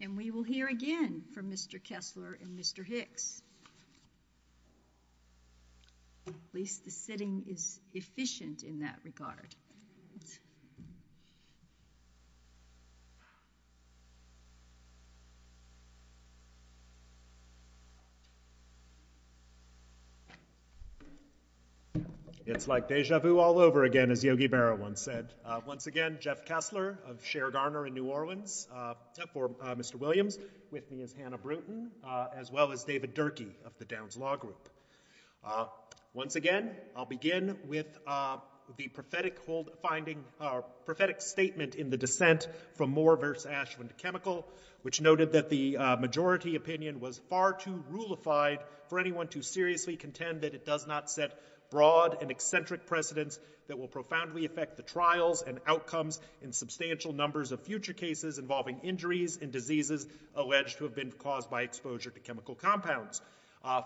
And we will hear again from Mr. Kessler and Mr. Hicks. At least the sitting is efficient in that regard. It's like deja vu all over again as Yogi Berra once said. Once again, Jeff Kessler of Cher Garner in New Orleans. For Mr. Williams, with me is Hannah Brewton, as well as David Durkee of the Downs Law Group. Once again, I'll begin with the prophetic statement in the dissent from Moore v. Ashland Chemical, which noted that the majority opinion was far too rulified for anyone to seriously contend that it does not set broad and eccentric precedents that will profoundly affect the trials and outcomes in substantial numbers of future cases involving injuries and diseases alleged to have been caused by exposure to chemical compounds.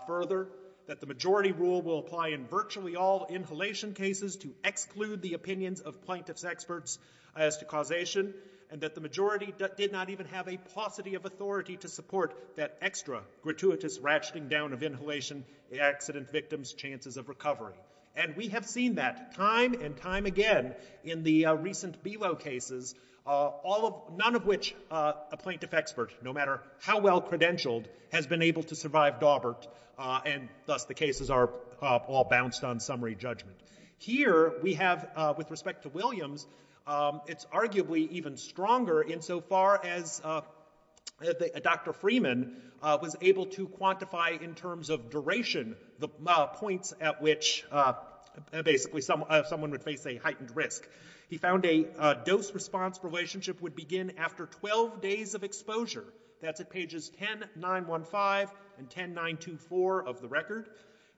Further, that the majority rule will apply in virtually all inhalation cases to exclude the opinions of plaintiff's experts as to causation, and that the majority did not even have a paucity of authority to support that extra gratuitous ratcheting down of inhalation accident victims' chances of recovery. And we have seen that time and time again in the recent BELO cases, none of which a plaintiff expert, no matter how well credentialed, has been able to survive Daubert, and thus the cases are all bounced on summary judgment. Here we have, with respect to Williams, it's arguably even stronger insofar as Dr. Freeman was able to quantify in terms of duration the points at which basically someone would face a heightened risk. He found a dose-response relationship would begin after 12 days of exposure. That's at pages 10-915 and 10-924 of the record.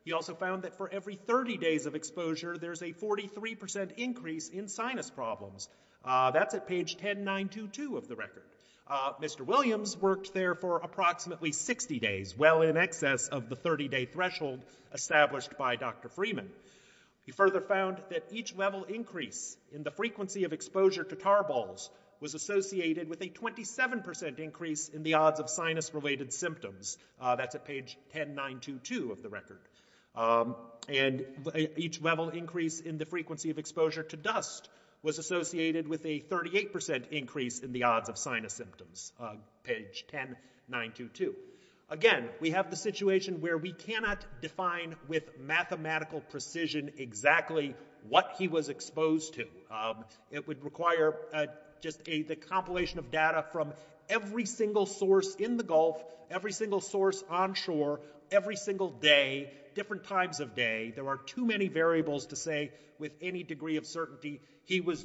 He also found that for every 30 days of exposure, there's a 43% increase in sinus problems. That's at page 10-922 of the record. Mr. Williams worked there for approximately 60 days, well in excess of the 30-day threshold established by Dr. Freeman. He further found that each level increase in the frequency of exposure to tarballs was associated with a 27% increase in the odds of sinus-related symptoms. That's at page 10-922 of the record. And each level increase in the frequency of exposure to dust was associated with a 38% increase in the odds of sinus symptoms, page 10-922. Again, we have the situation where we cannot define with mathematical precision exactly what he was exposed to. It would require just a compilation of data from every single source in the Gulf, every single source onshore, every single day, different times of day. There are too many variables to say with any degree of certainty he was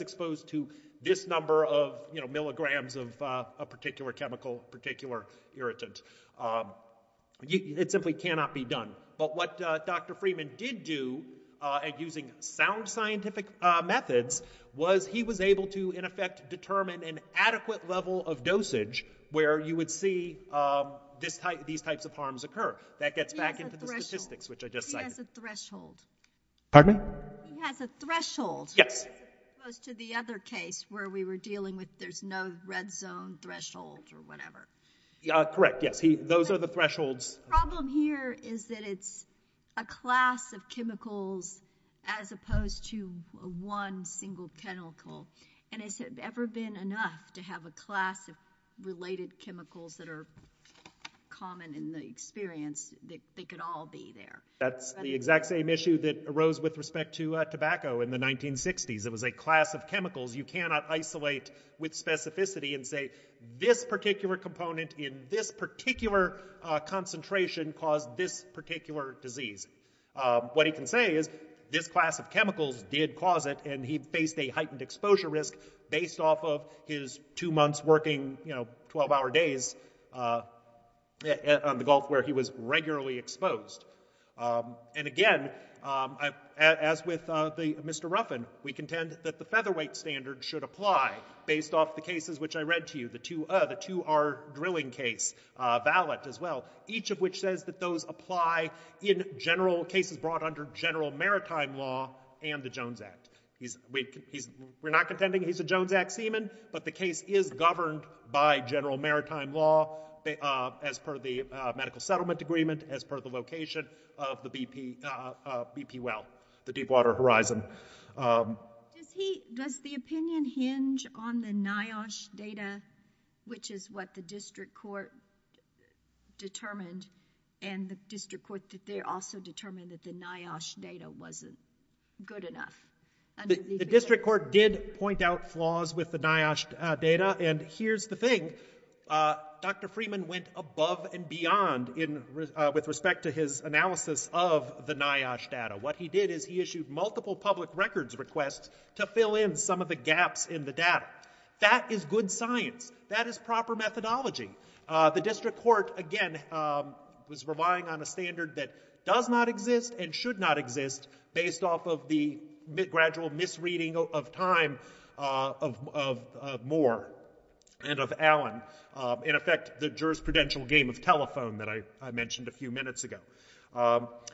exposed to this number of milligrams of a particular chemical, particular irritant. It simply cannot be done. But what Dr. Freeman did do, using sound scientific methods, was he was able to, in effect, determine an adequate level of dosage where you would see these types of harms occur. That gets back into the statistics, which I just cited. He has a threshold. Pardon me? He has a threshold. Yes. As opposed to the other case where we were dealing with there's no red zone threshold or whatever. Correct, yes. Those are the thresholds. The problem here is that it's a class of chemicals as opposed to one single chemical. And has it ever been enough to have a class of related chemicals that are common in the experience that they could all be there? That's the exact same issue that arose with respect to tobacco in the 1960s. It was a class of chemicals you cannot isolate with specificity and say this particular component in this particular concentration caused this particular disease. What he can say is this class of chemicals did cause it, and he faced a heightened exposure risk based off of his two months working 12-hour days on the Gulf where he was regularly exposed. And again, as with Mr. Ruffin, we contend that the featherweight standard should apply based off the cases which I read to you, the 2R drilling case, valet as well, each of which says that those apply in general cases brought under General Maritime Law and the Jones Act. We're not contending he's a Jones Act seaman, but the case is governed by General Maritime Law as per the Medical Settlement Agreement, as per the location of the BP well, the Deepwater Horizon. Does the opinion hinge on the NIOSH data, which is what the district court determined, and the district court also determined that the NIOSH data wasn't good enough? The district court did point out flaws with the NIOSH data, and here's the thing. Dr. Freeman went above and beyond with respect to his analysis of the NIOSH data. What he did is he issued multiple public records requests to fill in some of the gaps in the data. That is good science. That is proper methodology. The district court, again, was relying on a standard that does not exist and should not exist based off of the gradual misreading of time of Moore and of Allen. In effect, the jurisprudential game of telephone that I mentioned a few minutes ago.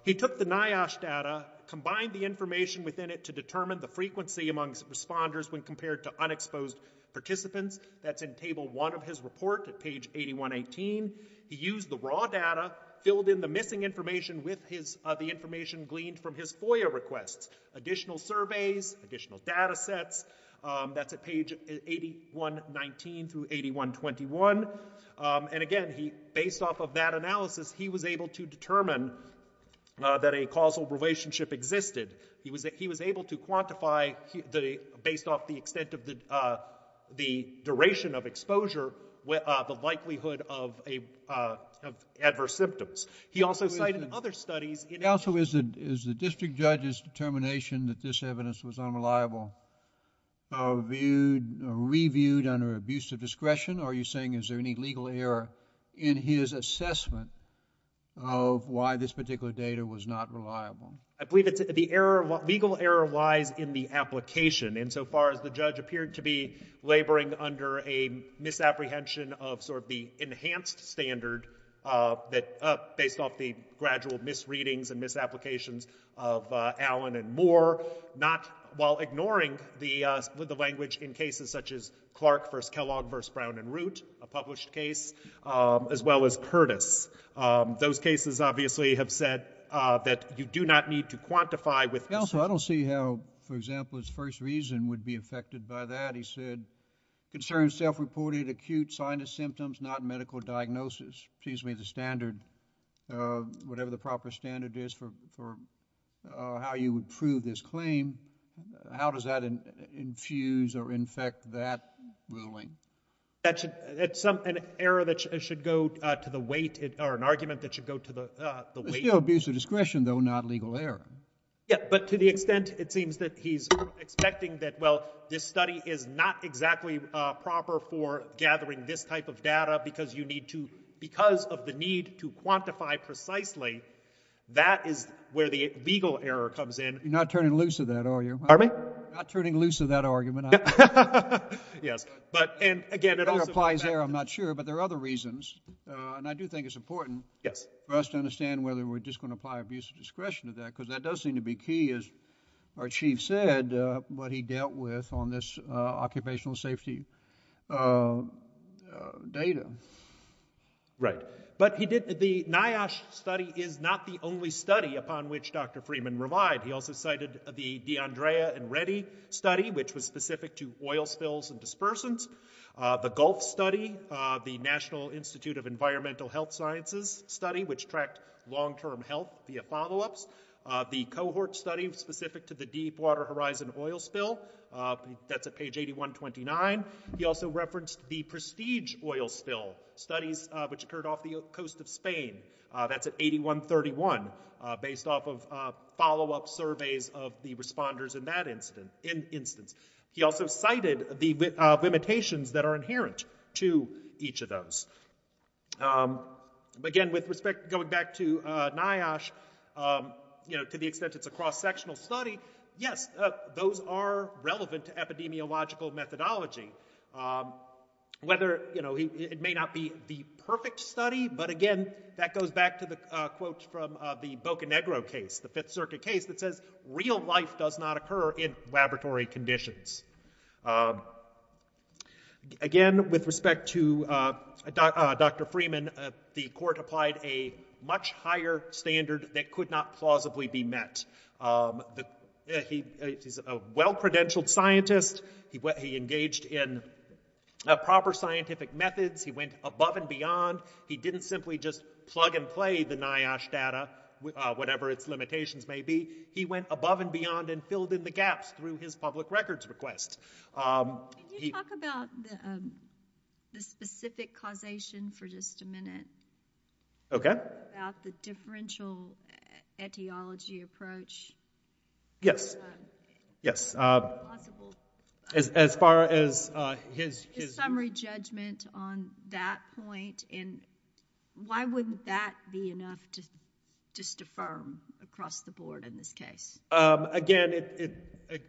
He took the NIOSH data, combined the information within it to determine the frequency amongst responders when compared to unexposed participants. That's in Table 1 of his report at page 8118. He used the raw data, filled in the missing information with the information gleaned from his FOIA requests, additional surveys, additional data sets. That's at page 8119 through 8121. And again, based off of that analysis, he was able to determine that a causal relationship existed. He was able to quantify, based off the extent of the duration of exposure, the likelihood of adverse symptoms. He also cited other studies... Counsel, is the district judge's determination that this evidence was unreliable reviewed under abuse of discretion? Are you saying is there any legal error in his assessment of why this particular data was not reliable? I believe the legal error lies in the application, insofar as the judge appeared to be laboring under a misapprehension of sort of the enhanced standard based off the gradual misreadings and misapplications of Allen and Moore, while ignoring the language in cases such as Clark v. Kellogg v. Brown and Root, a published case, as well as Curtis. Those cases obviously have said that you do not need to quantify with... Counsel, I don't see how, for example, his first reason would be affected by that. He said, concern self-reported acute sinus symptoms, not medical diagnosis. Excuse me, the standard, whatever the proper standard is for how you would prove this claim, how does that infuse or infect that ruling? That's an error that should go to the weight... There's still abuse of discretion, though, not legal error. Yeah, but to the extent, it seems, that he's expecting that, well, this study is not exactly proper for gathering this type of data because of the need to quantify precisely, that is where the legal error comes in. You're not turning loose of that, are you? Pardon me? Not turning loose of that argument. Yes, but, and again... I'm not sure, but there are other reasons, and I do think it's important... Yes. ...for us to understand whether we're just going to apply abuse of discretion to that, because that does seem to be key, as our chief said, what he dealt with on this occupational safety data. Right. But he did, the NIOSH study is not the only study upon which Dr. Freeman relied. He also cited the D'Andrea and Reddy study, which was specific to oil spills and dispersants. The Gulf study, the National Institute of Environmental Health Sciences study, which tracked long-term health via follow-ups. The cohort study specific to the Deepwater Horizon oil spill, that's at page 8129. He also referenced the Prestige oil spill studies, which occurred off the coast of Spain. That's at 8131, based off of follow-up surveys of the responders in that instance. He also cited the limitations that are inherent to each of those. Again, with respect, going back to NIOSH, to the extent it's a cross-sectional study, yes, those are relevant to epidemiological methodology. Whether, you know, it may not be the perfect study, but again, that goes back to the quote from the Boca Negro case, the Fifth Circuit case, that says, Real life does not occur in laboratory conditions. Again, with respect to Dr. Freeman, the court applied a much higher standard that could not plausibly be met. He's a well-credentialed scientist. He engaged in proper scientific methods. He went above and beyond. He didn't simply just plug and play the NIOSH data, whatever its limitations may be. He went above and beyond and filled in the gaps through his public records request. Can you talk about the specific causation for just a minute? Okay. About the differential etiology approach? As far as his... His summary judgment on that point and why wouldn't that be enough to just affirm across the board in this case? Again,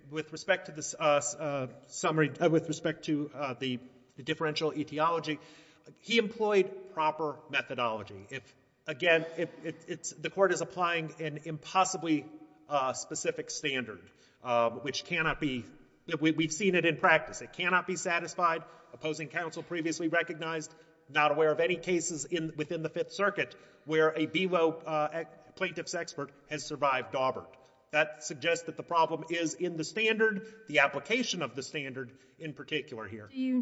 with respect to this summary, with respect to the differential etiology, he employed proper methodology. Again, the court is applying an impossibly specific standard, which cannot be... We've seen it in practice. It cannot be satisfied, opposing counsel previously recognized, not aware of any cases within the Fifth Circuit where a BWO plaintiff's expert has survived daubered. That suggests that the problem is in the standard, the application of the standard in particular here. You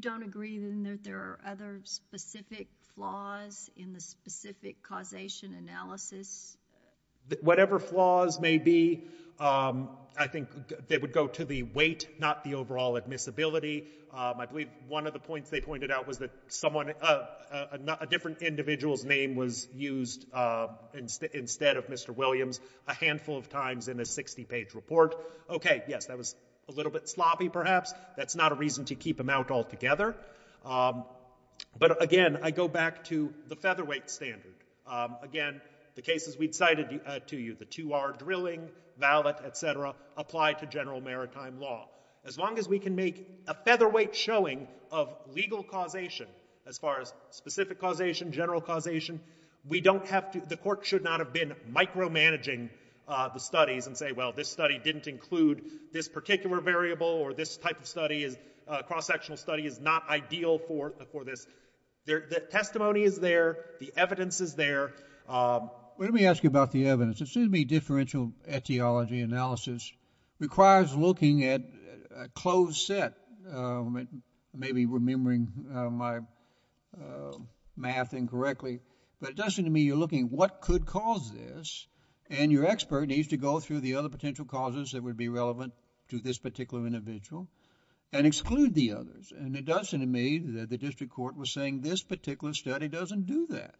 don't agree that there are other specific flaws in the specific causation analysis? Whatever flaws may be, I think they would go to the weight, not the overall admissibility. I believe one of the points they pointed out was that a different individual's name was used instead of Mr. Williams a handful of times in a 60-page report. Okay, yes, that was a little bit sloppy, perhaps. That's not a reason to keep him out altogether. But again, I go back to the featherweight standard. Again, the cases we'd cited to you, the 2R drilling, valet, etc., apply to general maritime law. As long as we can make a featherweight showing of legal causation, as far as specific causation, general causation, we don't have to... The court should not have been micromanaging the studies and say, well, this study didn't include this particular variable or this type of study, cross-sectional study is not ideal for this. The testimony is there. The evidence is there. Let me ask you about the evidence. Assuming differential etiology analysis requires looking at a closed set, maybe remembering my math incorrectly, but it does seem to me you're looking, what could cause this? And your expert needs to go through the other potential causes that would be relevant to this particular individual and exclude the others. And it does seem to me that the district court was saying this particular study doesn't do that.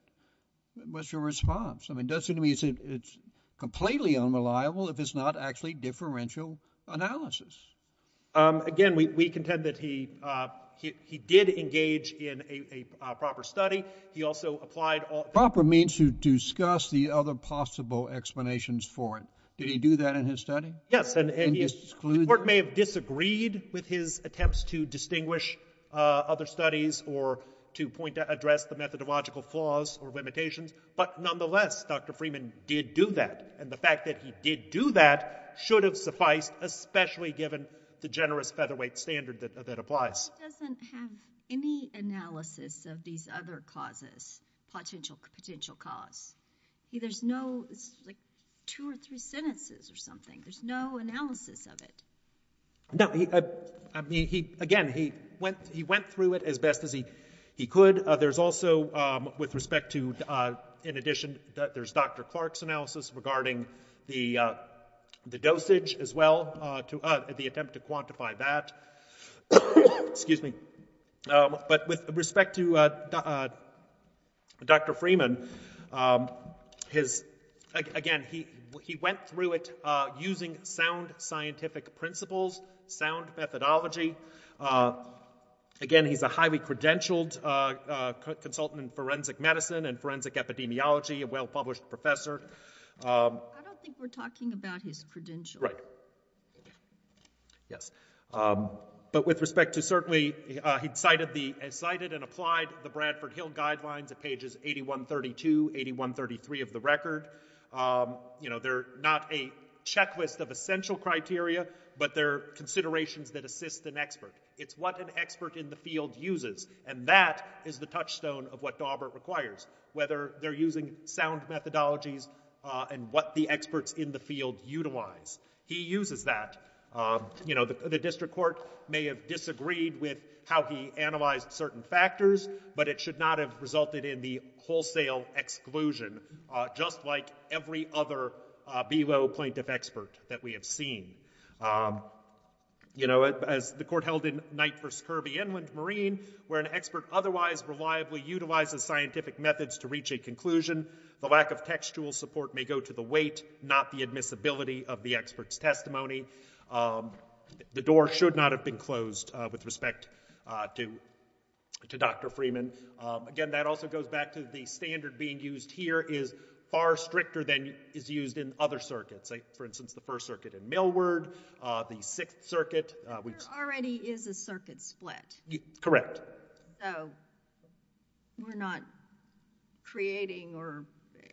What's your response? I mean, it does seem to me it's completely unreliable if it's not actually differential analysis. Again, we contend that he did engage in a proper study. He also applied... Proper means to discuss the other possible explanations for it. Did he do that in his study? Yes, and the court may have disagreed with his attempts to distinguish other studies or to address the methodological flaws or limitations, but nonetheless, Dr. Freeman did do that. And the fact that he did do that should have sufficed, especially given the generous featherweight standard that applies. He doesn't have any analysis of these other causes, potential cause. There's no... It's like 2 or 3 sentences or something. There's no analysis of it. No, I mean, again, he went through it as best as he could. There's also, with respect to... In addition, there's Dr. Clark's analysis regarding the dosage as well, the attempt to quantify that. Excuse me. But with respect to Dr. Freeman, his... Again, he went through it using sound scientific principles, sound methodology. Again, he's a highly credentialed consultant in forensic medicine and forensic epidemiology, a well-published professor. I don't think we're talking about his credential. Right. Yes. But with respect to... Certainly, he cited and applied the Bradford Hill Guidelines at pages 8132, 8133 of the record. You know, they're not a checklist of essential criteria, but they're considerations that assist an expert. It's what an expert in the field uses, and that is the touchstone of what Daubert requires, whether they're using sound methodologies and what the experts in the field utilize. He uses that. You know, the district court may have disagreed with how he analyzed certain factors, but it should not have resulted in the wholesale exclusion, just like every other below-point of expert that we have seen. You know, as the court held in Knight v. Kirby, where an expert otherwise reliably utilizes scientific methods to reach a conclusion, the lack of textual support may go to the weight, not the admissibility of the expert's testimony. The door should not have been closed with respect to Dr. Freeman. Again, that also goes back to the standard being used here is far stricter than is used in other circuits. For instance, the First Circuit in Millward, the Sixth Circuit... Already is a circuit split. Correct. So we're not creating, or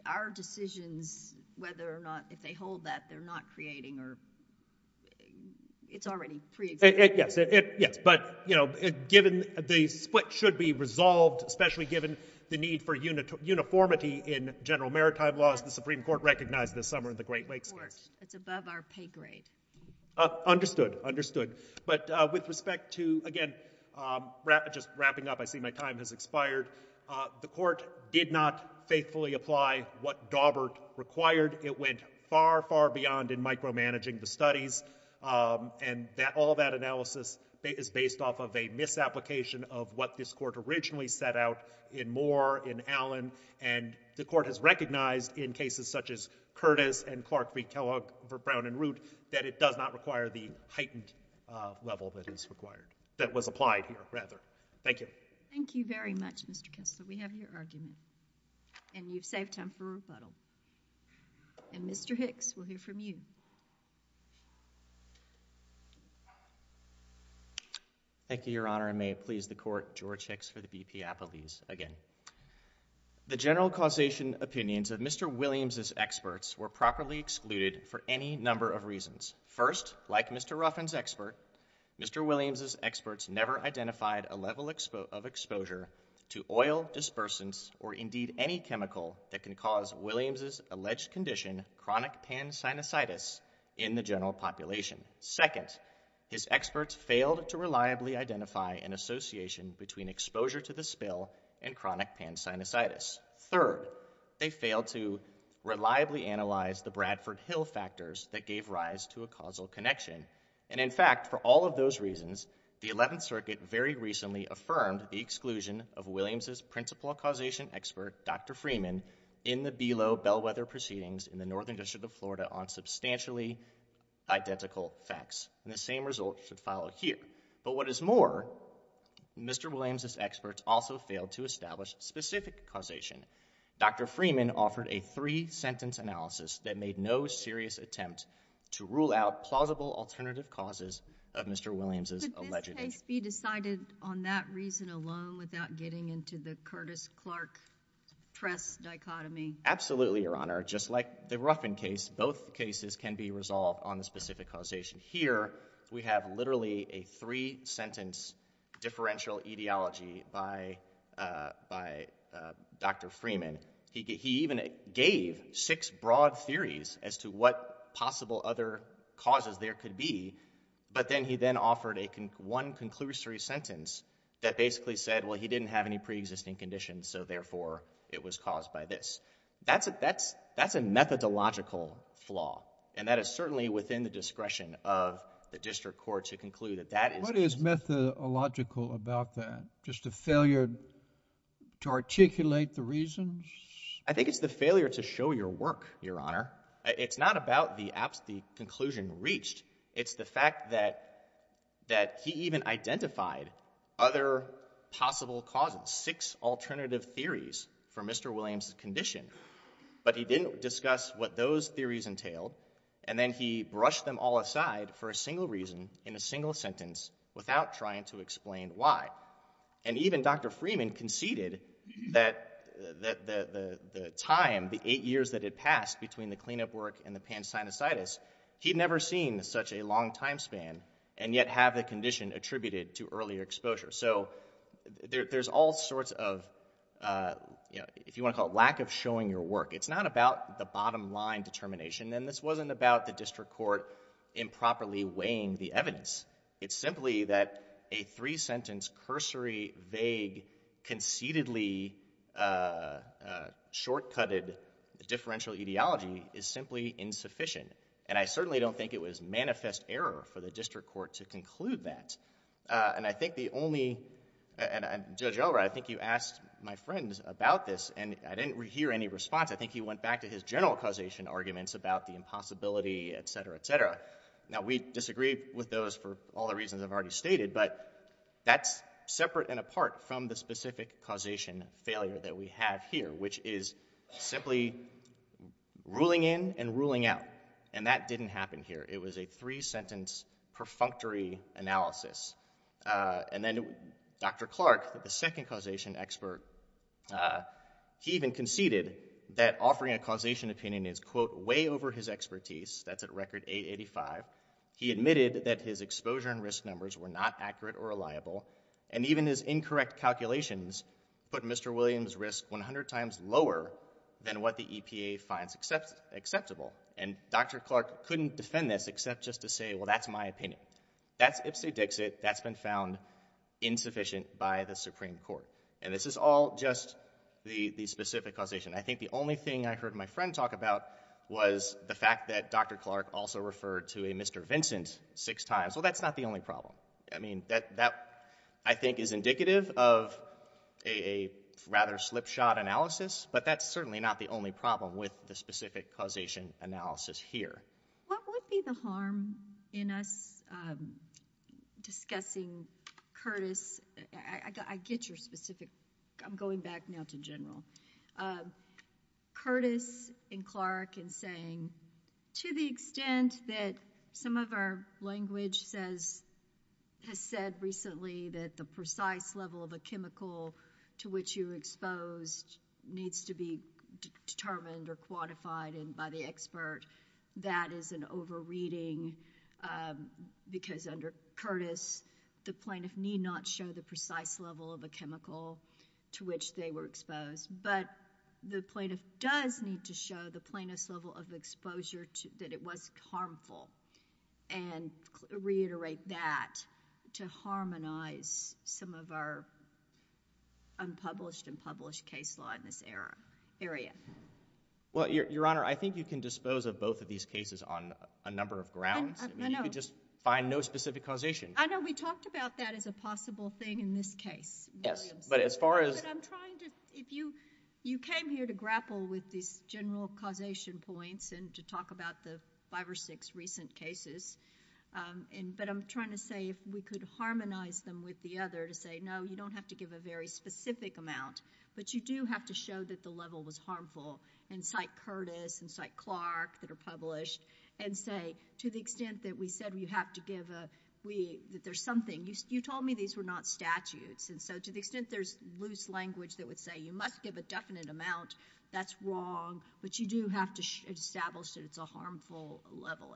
our decisions, whether or not, if they hold that, they're not creating, or it's already pre-existing. Yes, but, you know, given the split should be resolved, especially given the need for uniformity in general maritime laws the Supreme Court recognized this summer in the Great Lakes case. It's above our pay grade. Understood, understood. But with respect to, again, just wrapping up, I see my time has expired. The court did not faithfully apply what Dawbert required. It went far, far beyond in micromanaging the studies, and all that analysis is based off of a misapplication of what this court originally set out in Moore, in Allen, and the court has recognized in cases such as Curtis and Clark v. Kellogg for Brown and Root that it does not require the heightened level that is required, that was applied here, rather. Thank you. Thank you very much, Mr. Kessler. We have your argument, and you've saved time for rebuttal. And Mr. Hicks, we'll hear from you. Thank you, Your Honor, and may it please the Court, George Hicks for the BP Appellees, again. The general causation opinions of Mr. Williams' experts were properly excluded for any number of reasons. First, like Mr. Ruffin's expert, Mr. Williams' experts never identified a level of exposure to oil, dispersants, or indeed any chemical that can cause Williams' alleged condition, chronic pan-sinusitis, in the general population. Second, his experts failed to reliably identify an association between exposure to the spill and chronic pan-sinusitis. Third, they failed to reliably analyze the Bradford Hill factors that gave rise to a causal connection. And in fact, for all of those reasons, the Eleventh Circuit very recently affirmed the exclusion of Williams' principal causation expert, Dr. Freeman, in the BELO bellwether proceedings in the Northern District of Florida on substantially identical facts. And the same result should follow here. But what is more, Mr. Williams' experts also failed to establish specific causation. Dr. Freeman offered a three-sentence analysis that made no serious attempt to rule out plausible alternative causes of Mr. Williams' alleged... Could this case be decided on that reason alone without getting into the Curtis-Clark-Press dichotomy? Absolutely, Your Honor. Just like the Ruffin case, both cases can be resolved on the specific causation. Here, we have literally a three-sentence differential etiology by Dr. Freeman. He even gave six broad theories as to what possible other causes there could be, but then he then offered one conclusory sentence that basically said, well, he didn't have any preexisting conditions, so therefore it was caused by this. That's a methodological flaw, and that is certainly within the discretion of the district court to conclude that that is... Just a failure to articulate the reasons? I think it's the failure to show your work, Your Honor. It's not about the absolute conclusion reached. It's the fact that he even identified other possible causes, six alternative theories for Mr. Williams' condition, but he didn't discuss what those theories entailed, and then he brushed them all aside for a single reason in a single sentence without trying to explain why. And even Dr. Freeman conceded that the time, the eight years that had passed between the cleanup work and the pan-sinusitis, he'd never seen such a long time span and yet have the condition attributed to earlier exposure. So there's all sorts of, if you want to call it, lack of showing your work. It's not about the bottom-line determination, and this wasn't about the district court improperly weighing the evidence. It's simply that a three-sentence, cursory, vague, conceitedly short-cutted differential ideology is simply insufficient, and I certainly don't think it was manifest error for the district court to conclude that. And I think the only... Judge Elrod, I think you asked my friend about this, and I didn't hear any response. I think he went back to his general causation arguments about the impossibility, et cetera, et cetera. Now, we disagree with those for all the reasons I've already stated, but that's separate and apart from the specific causation failure that we have here, which is simply ruling in and ruling out, and that didn't happen here. It was a three-sentence, perfunctory analysis. And then Dr. Clark, the second causation expert, he even conceded that offering a causation opinion is, quote, way over his expertise. That's at record 885. He admitted that his exposure and risk numbers were not accurate or reliable, and even his incorrect calculations put Mr. Williams' risk 100 times lower than what the EPA finds acceptable. And Dr. Clark couldn't defend this except just to say, well, that's my opinion. That's ipsy-dixit. That's been found insufficient by the Supreme Court. And this is all just the specific causation. I think the only thing I heard my friend talk about was the fact that Dr. Clark also referred to a Mr. Vincent six times. Well, that's not the only problem. I mean, that, I think, is indicative of a rather slipshod analysis, but that's certainly not the only problem with the specific causation analysis here. What would be the harm in us discussing Curtis? I get your specific... I'm going back now to General. Curtis and Clark and saying, to the extent that some of our language has said recently that the precise level of a chemical to which you were exposed needs to be determined or quantified by the expert, that is an over-reading, because under Curtis, the plaintiff need not show the precise level of a chemical to which they were exposed, but the plaintiff does need to show the plaintiff's level of exposure that it was harmful and reiterate that to harmonize some of our unpublished and published case law in this area. Well, Your Honor, I think you can dispose of both of these cases on a number of grounds. You can just find no specific causation. I know. We talked about that as a possible thing in this case. Yes, but as far as... But I'm trying to... You came here to grapple with these general causation points and to talk about the five or six recent cases, but I'm trying to say if we could harmonize them with the other to say, no, you don't have to give a very specific amount, but you do have to show that the level was harmful and cite Curtis and cite Clark that are published and say, to the extent that we said you have to give a... that there's something... You told me these were not statutes, and so to the extent there's loose language that would say you must give a definite amount, that's wrong, but you do have to establish that it's a harmful level.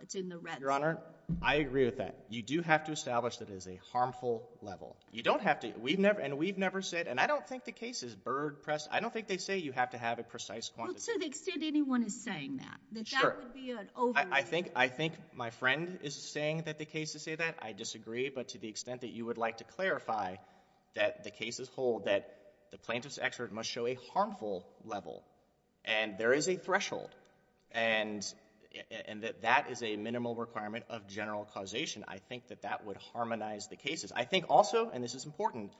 Your Honor, I agree with that. You do have to establish that it is a harmful level. You don't have to... And we've never said... And I don't think the case is bird-pressed. I don't think they say you have to have a precise quantity. Well, to the extent anyone is saying that, that that would be an overstatement. I think my friend is saying that the cases say that. I disagree, but to the extent that you would like to clarify that the cases hold that the plaintiff's excerpt must show a harmful level, and there is a threshold, and that that is a minimal requirement of general causation, I think that that would harmonize the cases. I think also, and this is important,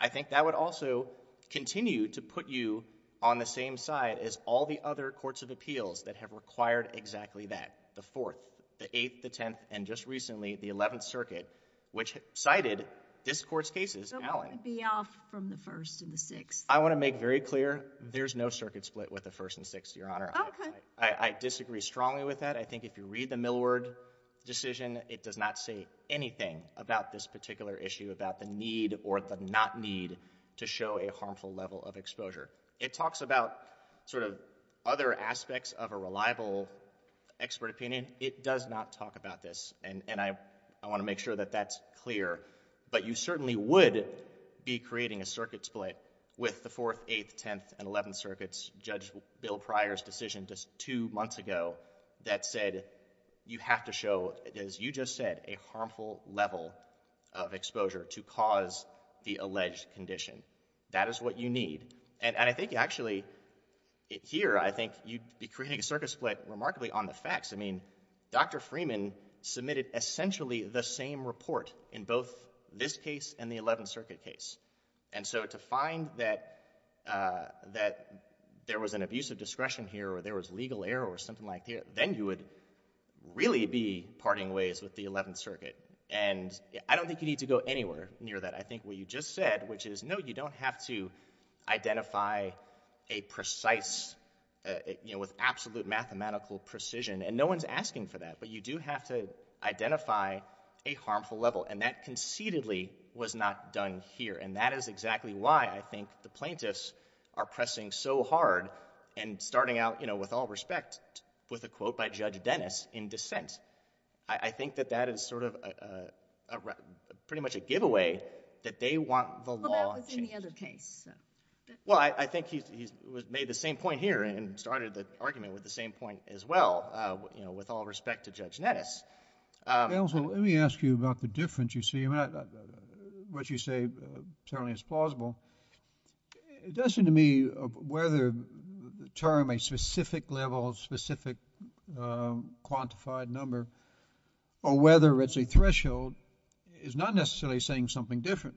I think that would also continue to put you on the same side as all the other courts of appeals that have required exactly that, the 4th, the 8th, the 10th, and just recently, the 11th Circuit, which cited this court's cases... But wouldn't it be off from the 1st and the 6th? I want to make very clear, there's no circuit split with the 1st and 6th, Your Honor. Okay. I disagree strongly with that. I think if you read the Millward decision, it does not say anything about this particular issue, about the need or the not need to show a harmful level of exposure. It talks about sort of other aspects of a reliable expert opinion. It does not talk about this, and I want to make sure that that's clear. But you certainly would be creating a circuit split with the 4th, 8th, 10th, and 11th Circuits, Judge Bill Pryor's decision just two months ago that said you have to show, as you just said, a harmful level of exposure to cause the alleged condition. That is what you need. And I think, actually, here, I think you'd be creating a circuit split remarkably on the facts. I mean, Dr. Freeman submitted essentially the same report in both this case and the 11th Circuit case. And so to find that, uh, that there was an abuse of discretion here or there was legal error or something like that, then you would really be parting ways with the 11th Circuit. And I don't think you need to go anywhere near that. I think what you just said, which is, no, you don't have to identify a precise, you know, with absolute mathematical precision, and no one's asking for that, but you do have to identify a harmful level. And that concededly was not done here. And that is exactly why I think the plaintiffs are pressing so hard and starting out, you know, with all respect, with a quote by Judge Dennis in dissent. I think that that is sort of a... pretty much a giveaway that they want the law changed. Well, that was in the other case, so... Well, I think he made the same point here and started the argument with the same point as well, uh, you know, with all respect to Judge Dennis. Um... Counsel, let me ask you about the difference, you see. What you say certainly is plausible. It does seem to me whether the term, a specific level, a specific, um, quantified number, or whether it's a threshold, is not necessarily saying something different.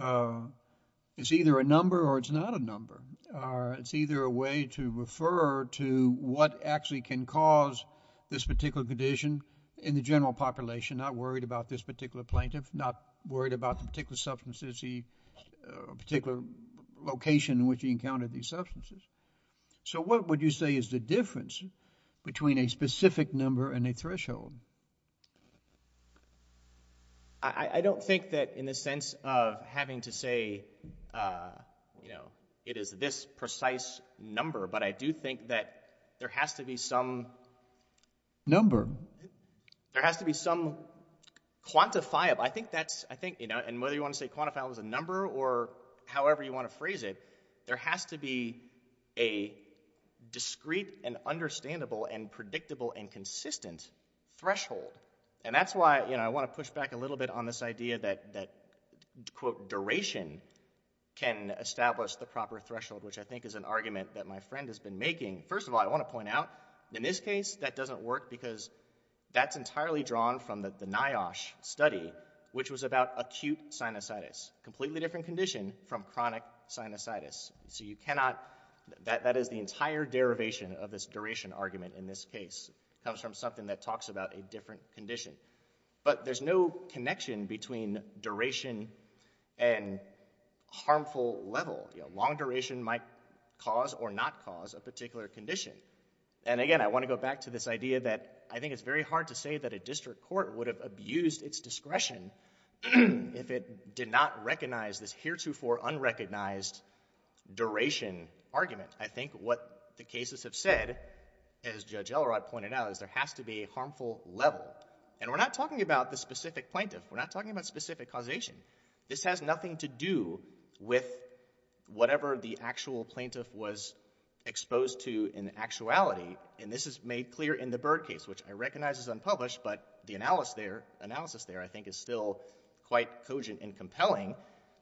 Uh, it's either a number or it's not a number. Uh, it's either a way to refer to what actually can cause this particular condition in the general population, not worried about this particular plaintiff, not worried about the particular substances he... particular location in which he encountered these substances. So what would you say is the difference between a specific number and a threshold? I-I don't think that in the sense of having to say, uh, you know, it is this precise number, but I do think that there has to be some... Number. There has to be some quantifiable... I think that's, I think, you know, and whether you want to say quantifiable as a number or however you want to phrase it, there has to be a discrete and understandable and predictable and consistent threshold. And that's why, you know, I want to push back a little bit on this idea that, that, quote, duration can establish the proper threshold, which I think is an argument that my friend has been making. First of all, I want to point out, in this case, that doesn't work because that's entirely drawn from the NIOSH study, which was about acute sinusitis, completely different condition from chronic sinusitis. So you cannot... That is the entire derivation of this duration argument in this case. It comes from something that talks about a different condition. But there's no connection between duration and harmful level. You know, long duration might cause or not cause a particular condition. And again, I want to go back to this idea that I think it's very hard to say that a district court would have abused its discretion if it did not recognize this heretofore unrecognized duration argument. I think what the cases have said, as Judge Elrod pointed out, is there has to be a harmful level. And we're not talking about the specific plaintiff. We're not talking about specific causation. This has nothing to do with whatever the actual plaintiff was exposed to in actuality. And this is made clear in the Byrd case, which I recognize is unpublished, but the analysis there, I think, is still quite cogent and compelling.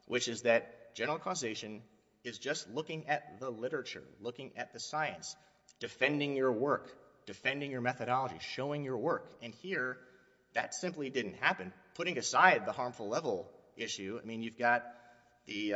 Which is that general causation is just looking at the literature, looking at the science, defending your work, defending your methodology, showing your work. And here, that simply didn't happen. Putting aside the harmful level issue, I mean, you've got the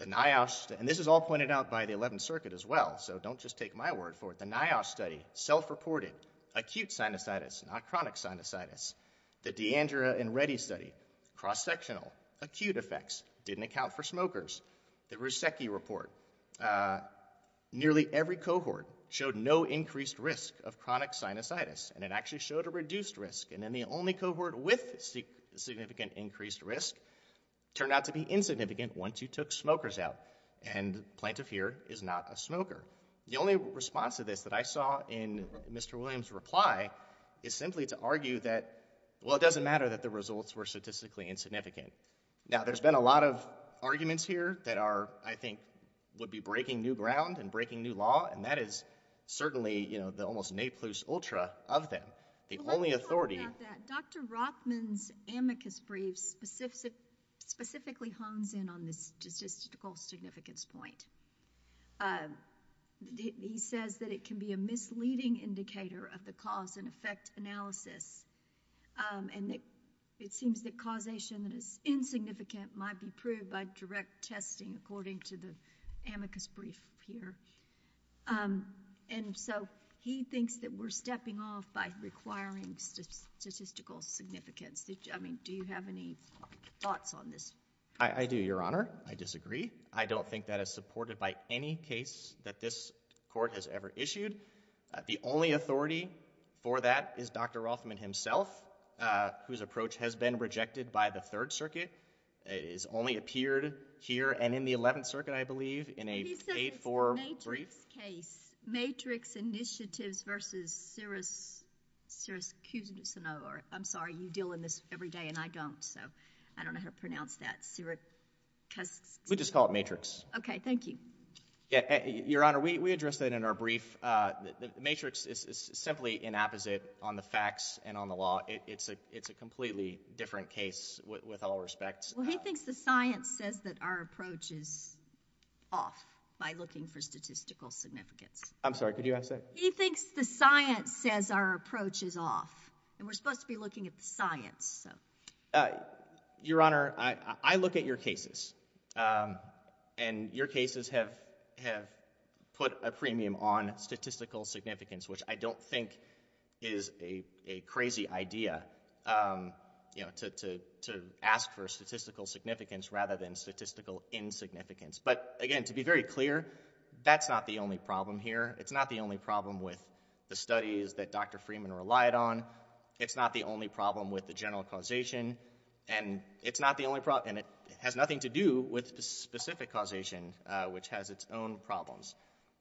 NIOSH... And this is all pointed out by the 11th Circuit as well, so don't just take my word for it. The NIOSH study, self-reported acute sinusitis, not chronic sinusitis. The D'Andrea and Reddy study, cross-sectional, acute effects, didn't account for smokers. The Rusecki report, nearly every cohort showed no increased risk of chronic sinusitis. And it actually showed a reduced risk. And then the only cohort with significant increased risk turned out to be insignificant once you took smokers out. And the plaintiff here is not a smoker. The only response to this that I saw in Mr. Williams' reply is simply to argue that, well, it doesn't matter that the results were statistically insignificant. Now, there's been a lot of arguments here that are, I think, would be breaking new ground and breaking new law, and that is certainly, you know, the almost naplus ultra of them. The only authority... Well, let's talk about that. Dr. Rothman's amicus brief specifically hones in on this statistical significance point. He says that it can be a misleading indicator of the cause-and-effect analysis and that it seems that causation that is insignificant might be proved by direct testing, according to the amicus brief here. And so he thinks that we're stepping off by requiring statistical significance. I mean, do you have any thoughts on this? I do, Your Honor. I disagree. I don't think that is supported by any case that this court has ever issued. The only authority for that is Dr. Rothman himself, whose approach has been rejected by the Third Circuit. It has only appeared here and in the Eleventh Circuit, I believe, in an 8-4 brief. He says it's a matrix case, matrix initiatives versus Syracuse... I'm sorry, you deal in this every day, and I don't, so I don't know how to pronounce that. Syracuse... We just call it matrix. Okay, thank you. Your Honor, we addressed that in our brief. The matrix is simply inapposite on the facts and on the law. It's a completely different case with all respects. Well, he thinks the science says that our approach is off by looking for statistical significance. I'm sorry, could you answer that? He thinks the science says our approach is off, and we're supposed to be looking at the science, so... Your Honor, I look at your cases, and your cases have put a premium on statistical significance, which I don't think is a crazy idea, you know, to ask for statistical significance rather than statistical insignificance. But again, to be very clear, that's not the only problem here. It's not the only problem with the studies that Dr. Freeman relied on. It's not the only problem with the general causation, and it has nothing to do with the specific causation, which has its own problems.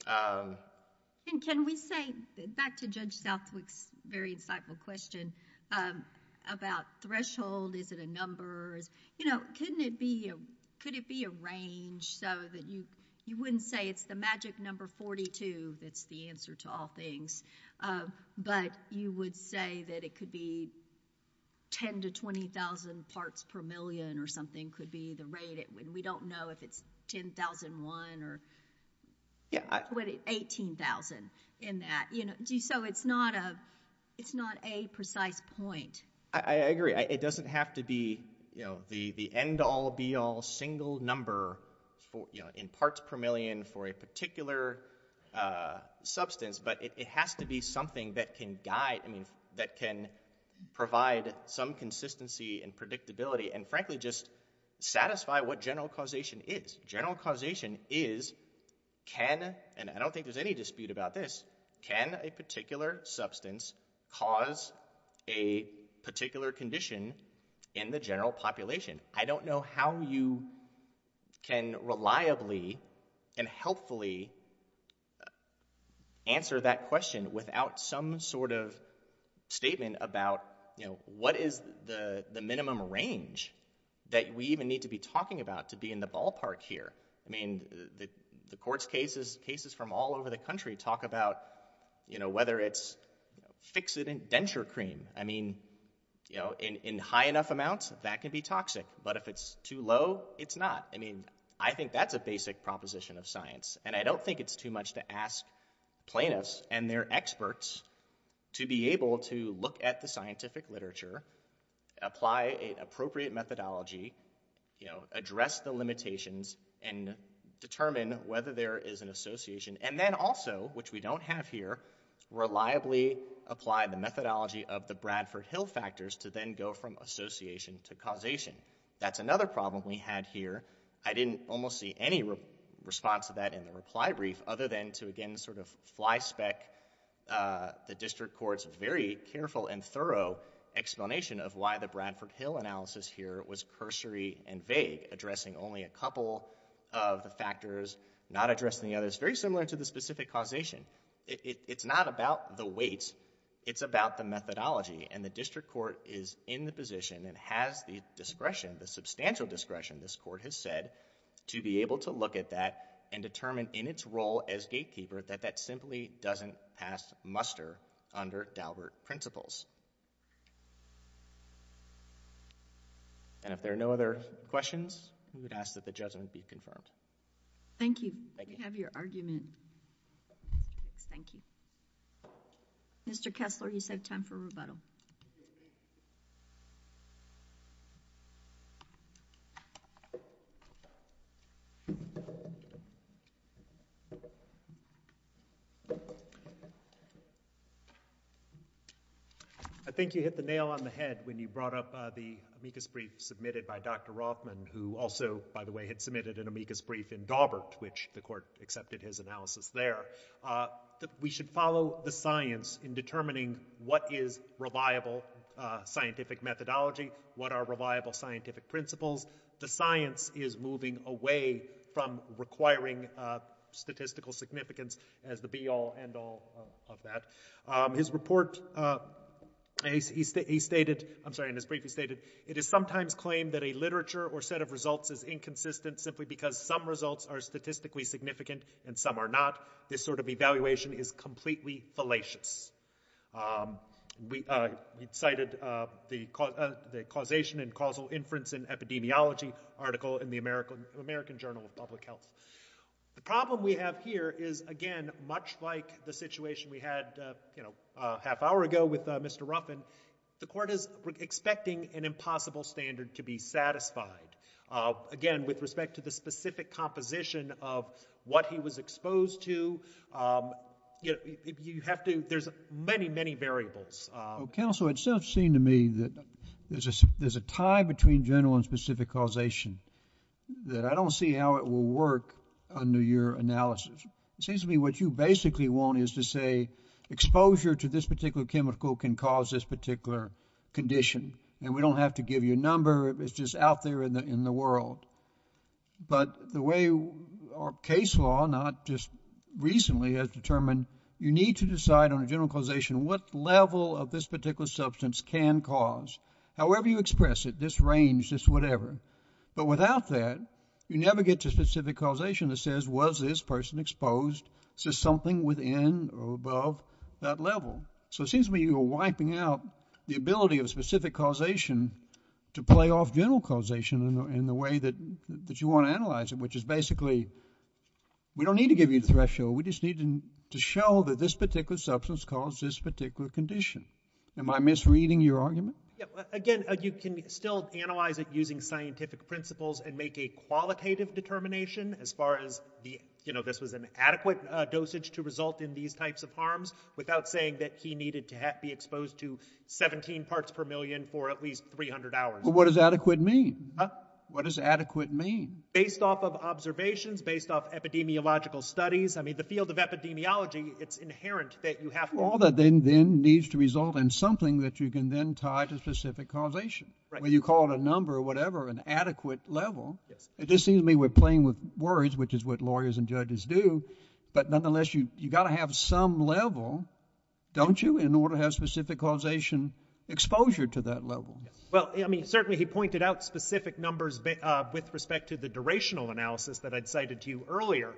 And can we say, back to Judge Southwick's very insightful question about threshold, is it a number? You know, couldn't it be a range, so that you wouldn't say it's the magic number 42 that's the answer to all things, but you would say that it could be 10,000 to 20,000 parts per million or something could be the rate. We don't know if it's 10,001 or... Yeah, I... 18,000 in that. So it's not a precise point. I agree. It doesn't have to be, you know, the end-all, be-all single number, you know, in parts per million for a particular substance, but it has to be something that can guide, I mean, that can provide some consistency and predictability and, frankly, just satisfy what general causation is. General causation is, can, and I don't think there's any dispute about this, can a particular substance cause a particular condition in the general population? I don't know how you can reliably and helpfully answer that question without some sort of statement about, you know, what is the minimum range that we even need to be talking about to be in the ballpark here? I mean, the courts' cases, cases from all over the country, talk about, you know, whether it's fixative denture cream. I mean, you know, in high enough amounts, that can be toxic, but if it's too low, it's not. I mean, I think that's a basic proposition of science, and I don't think it's too much to ask plaintiffs and their experts to be able to look at the scientific literature, apply an appropriate methodology, you know, address the limitations, and determine whether there is an association, and then also, which we don't have here, reliably apply the methodology of the Bradford-Hill factors to then go from association to causation. That's another problem we had here. I didn't almost see any response to that in the reply brief, other than to, again, sort of flyspeck the district court's very careful and thorough explanation of why the Bradford-Hill analysis here was cursory and vague, addressing only a couple of the factors, not addressing the others, very similar to the specific causation. It's not about the weight. It's about the methodology, and the district court is in the position and has the discretion, the substantial discretion, this court has said, to be able to look at that and determine in its role as gatekeeper that that simply doesn't pass muster under Daubert principles. And if there are no other questions, we would ask that the judgment be confirmed. Thank you. Thank you. We have your argument. Thank you. Mr. Kessler, you save time for rebuttal. I think you hit the nail on the head when you brought up the amicus brief submitted by Dr. Rothman, who also, by the way, had submitted an amicus brief in Daubert, which the court accepted his analysis there. We should follow the science in determining what is reliable scientific methodology, what are reliable scientific principles. The science is moving away from requiring statistical significance as the be-all, end-all of that. His report, he stated... I'm sorry, in his brief, he stated, it is sometimes claimed that a literature or set of results is inconsistent simply because some results are statistically significant and some are not. This sort of evaluation is completely fallacious. We cited the causation and causal inference in epidemiology article in the American Journal of Public Health. The problem we have here is, again, much like the situation we had, you know, a half hour ago with Mr. Ruffin, the court is expecting an impossible standard to be satisfied. Again, with respect to the specific composition of what he was exposed to, you have to... there's many, many variables. Counsel, it does seem to me that there's a tie between general and specific causation that I don't see how it will work under your analysis. It seems to me what you basically want is to say exposure to this particular chemical can cause this particular condition, and we don't have to give you a number. It's just out there in the world. But the way our case law, not just recently, has determined you need to decide on a general causation what level of this particular substance can cause. However you express it, this range, this whatever. But without that, you never get to specific causation that says, was this person exposed to something within or above that level? So it seems to me you're wiping out the ability of specific causation to play off general causation in the way that you want to analyze it, which is basically we don't need to give you the threshold. We just need to show that this particular substance caused this particular condition. Am I misreading your argument? Again, you can still analyze it using scientific principles and make a qualitative determination as far as this was an adequate dosage to result in these types of harms without saying that he needed to be exposed to 17 parts per million for at least 300 hours. But what does adequate mean? What does adequate mean? Based off of observations, based off epidemiological studies. The field of epidemiology, it's inherent that you have to. All that then needs to result in something that you can then tie to specific causation. When you call it a number or whatever, an adequate level, it just seems to me we're playing with words, which is what lawyers and judges do. But nonetheless, you've got to have some level, don't you, in order to have specific causation exposure to that level. Well, I mean, certainly he pointed out specific numbers with respect to the durational analysis that I'd cited to you earlier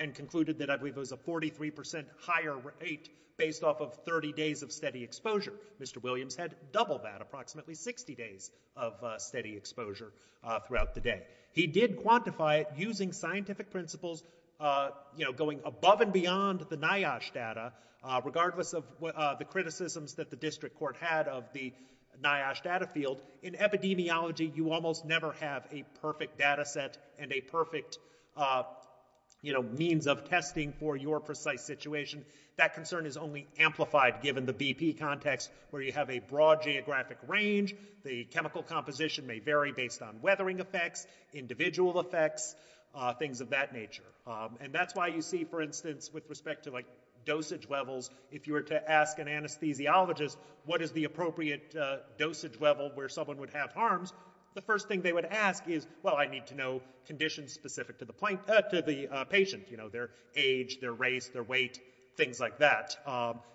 and concluded that I believe it was a 43% higher rate based off of 30 days of steady exposure. Mr. Williams had double that, approximately 60 days of steady exposure throughout the day. He did quantify it using scientific principles, you know, going above and beyond the NIOSH data, regardless of the criticisms that the district court had of the NIOSH data field. In epidemiology, you almost never have a perfect data set and a perfect, you know, means of testing for your precise situation. That concern is only amplified given the BP context where you have a broad geographic range, the chemical composition may vary based on weathering effects, individual effects, things of that nature. And that's why you see, for instance, with respect to, like, dosage levels, if you were to ask an anesthesiologist what is the appropriate dosage level where someone would have harms, the first thing they would ask is, well, I need to know conditions specific to the patient, you know, their age, their race, their weight, things like that.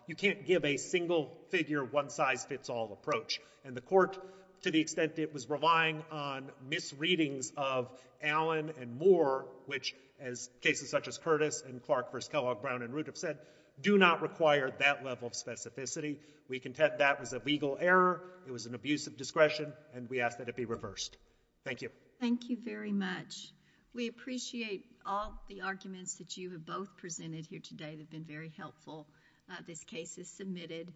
You can't give a single-figure, one-size-fits-all approach. And the court, to the extent it was relying on misreadings of Allen and Moore, which, as cases such as Curtis and Clark v. Kellogg, Brown v. Rudiff said, do not require that level of specificity. We contend that was a legal error, it was an abuse of discretion, and we ask that it be reversed. Thank you. Thank you very much. We appreciate all the arguments that you have both presented here today that have been very helpful. This case is submitted.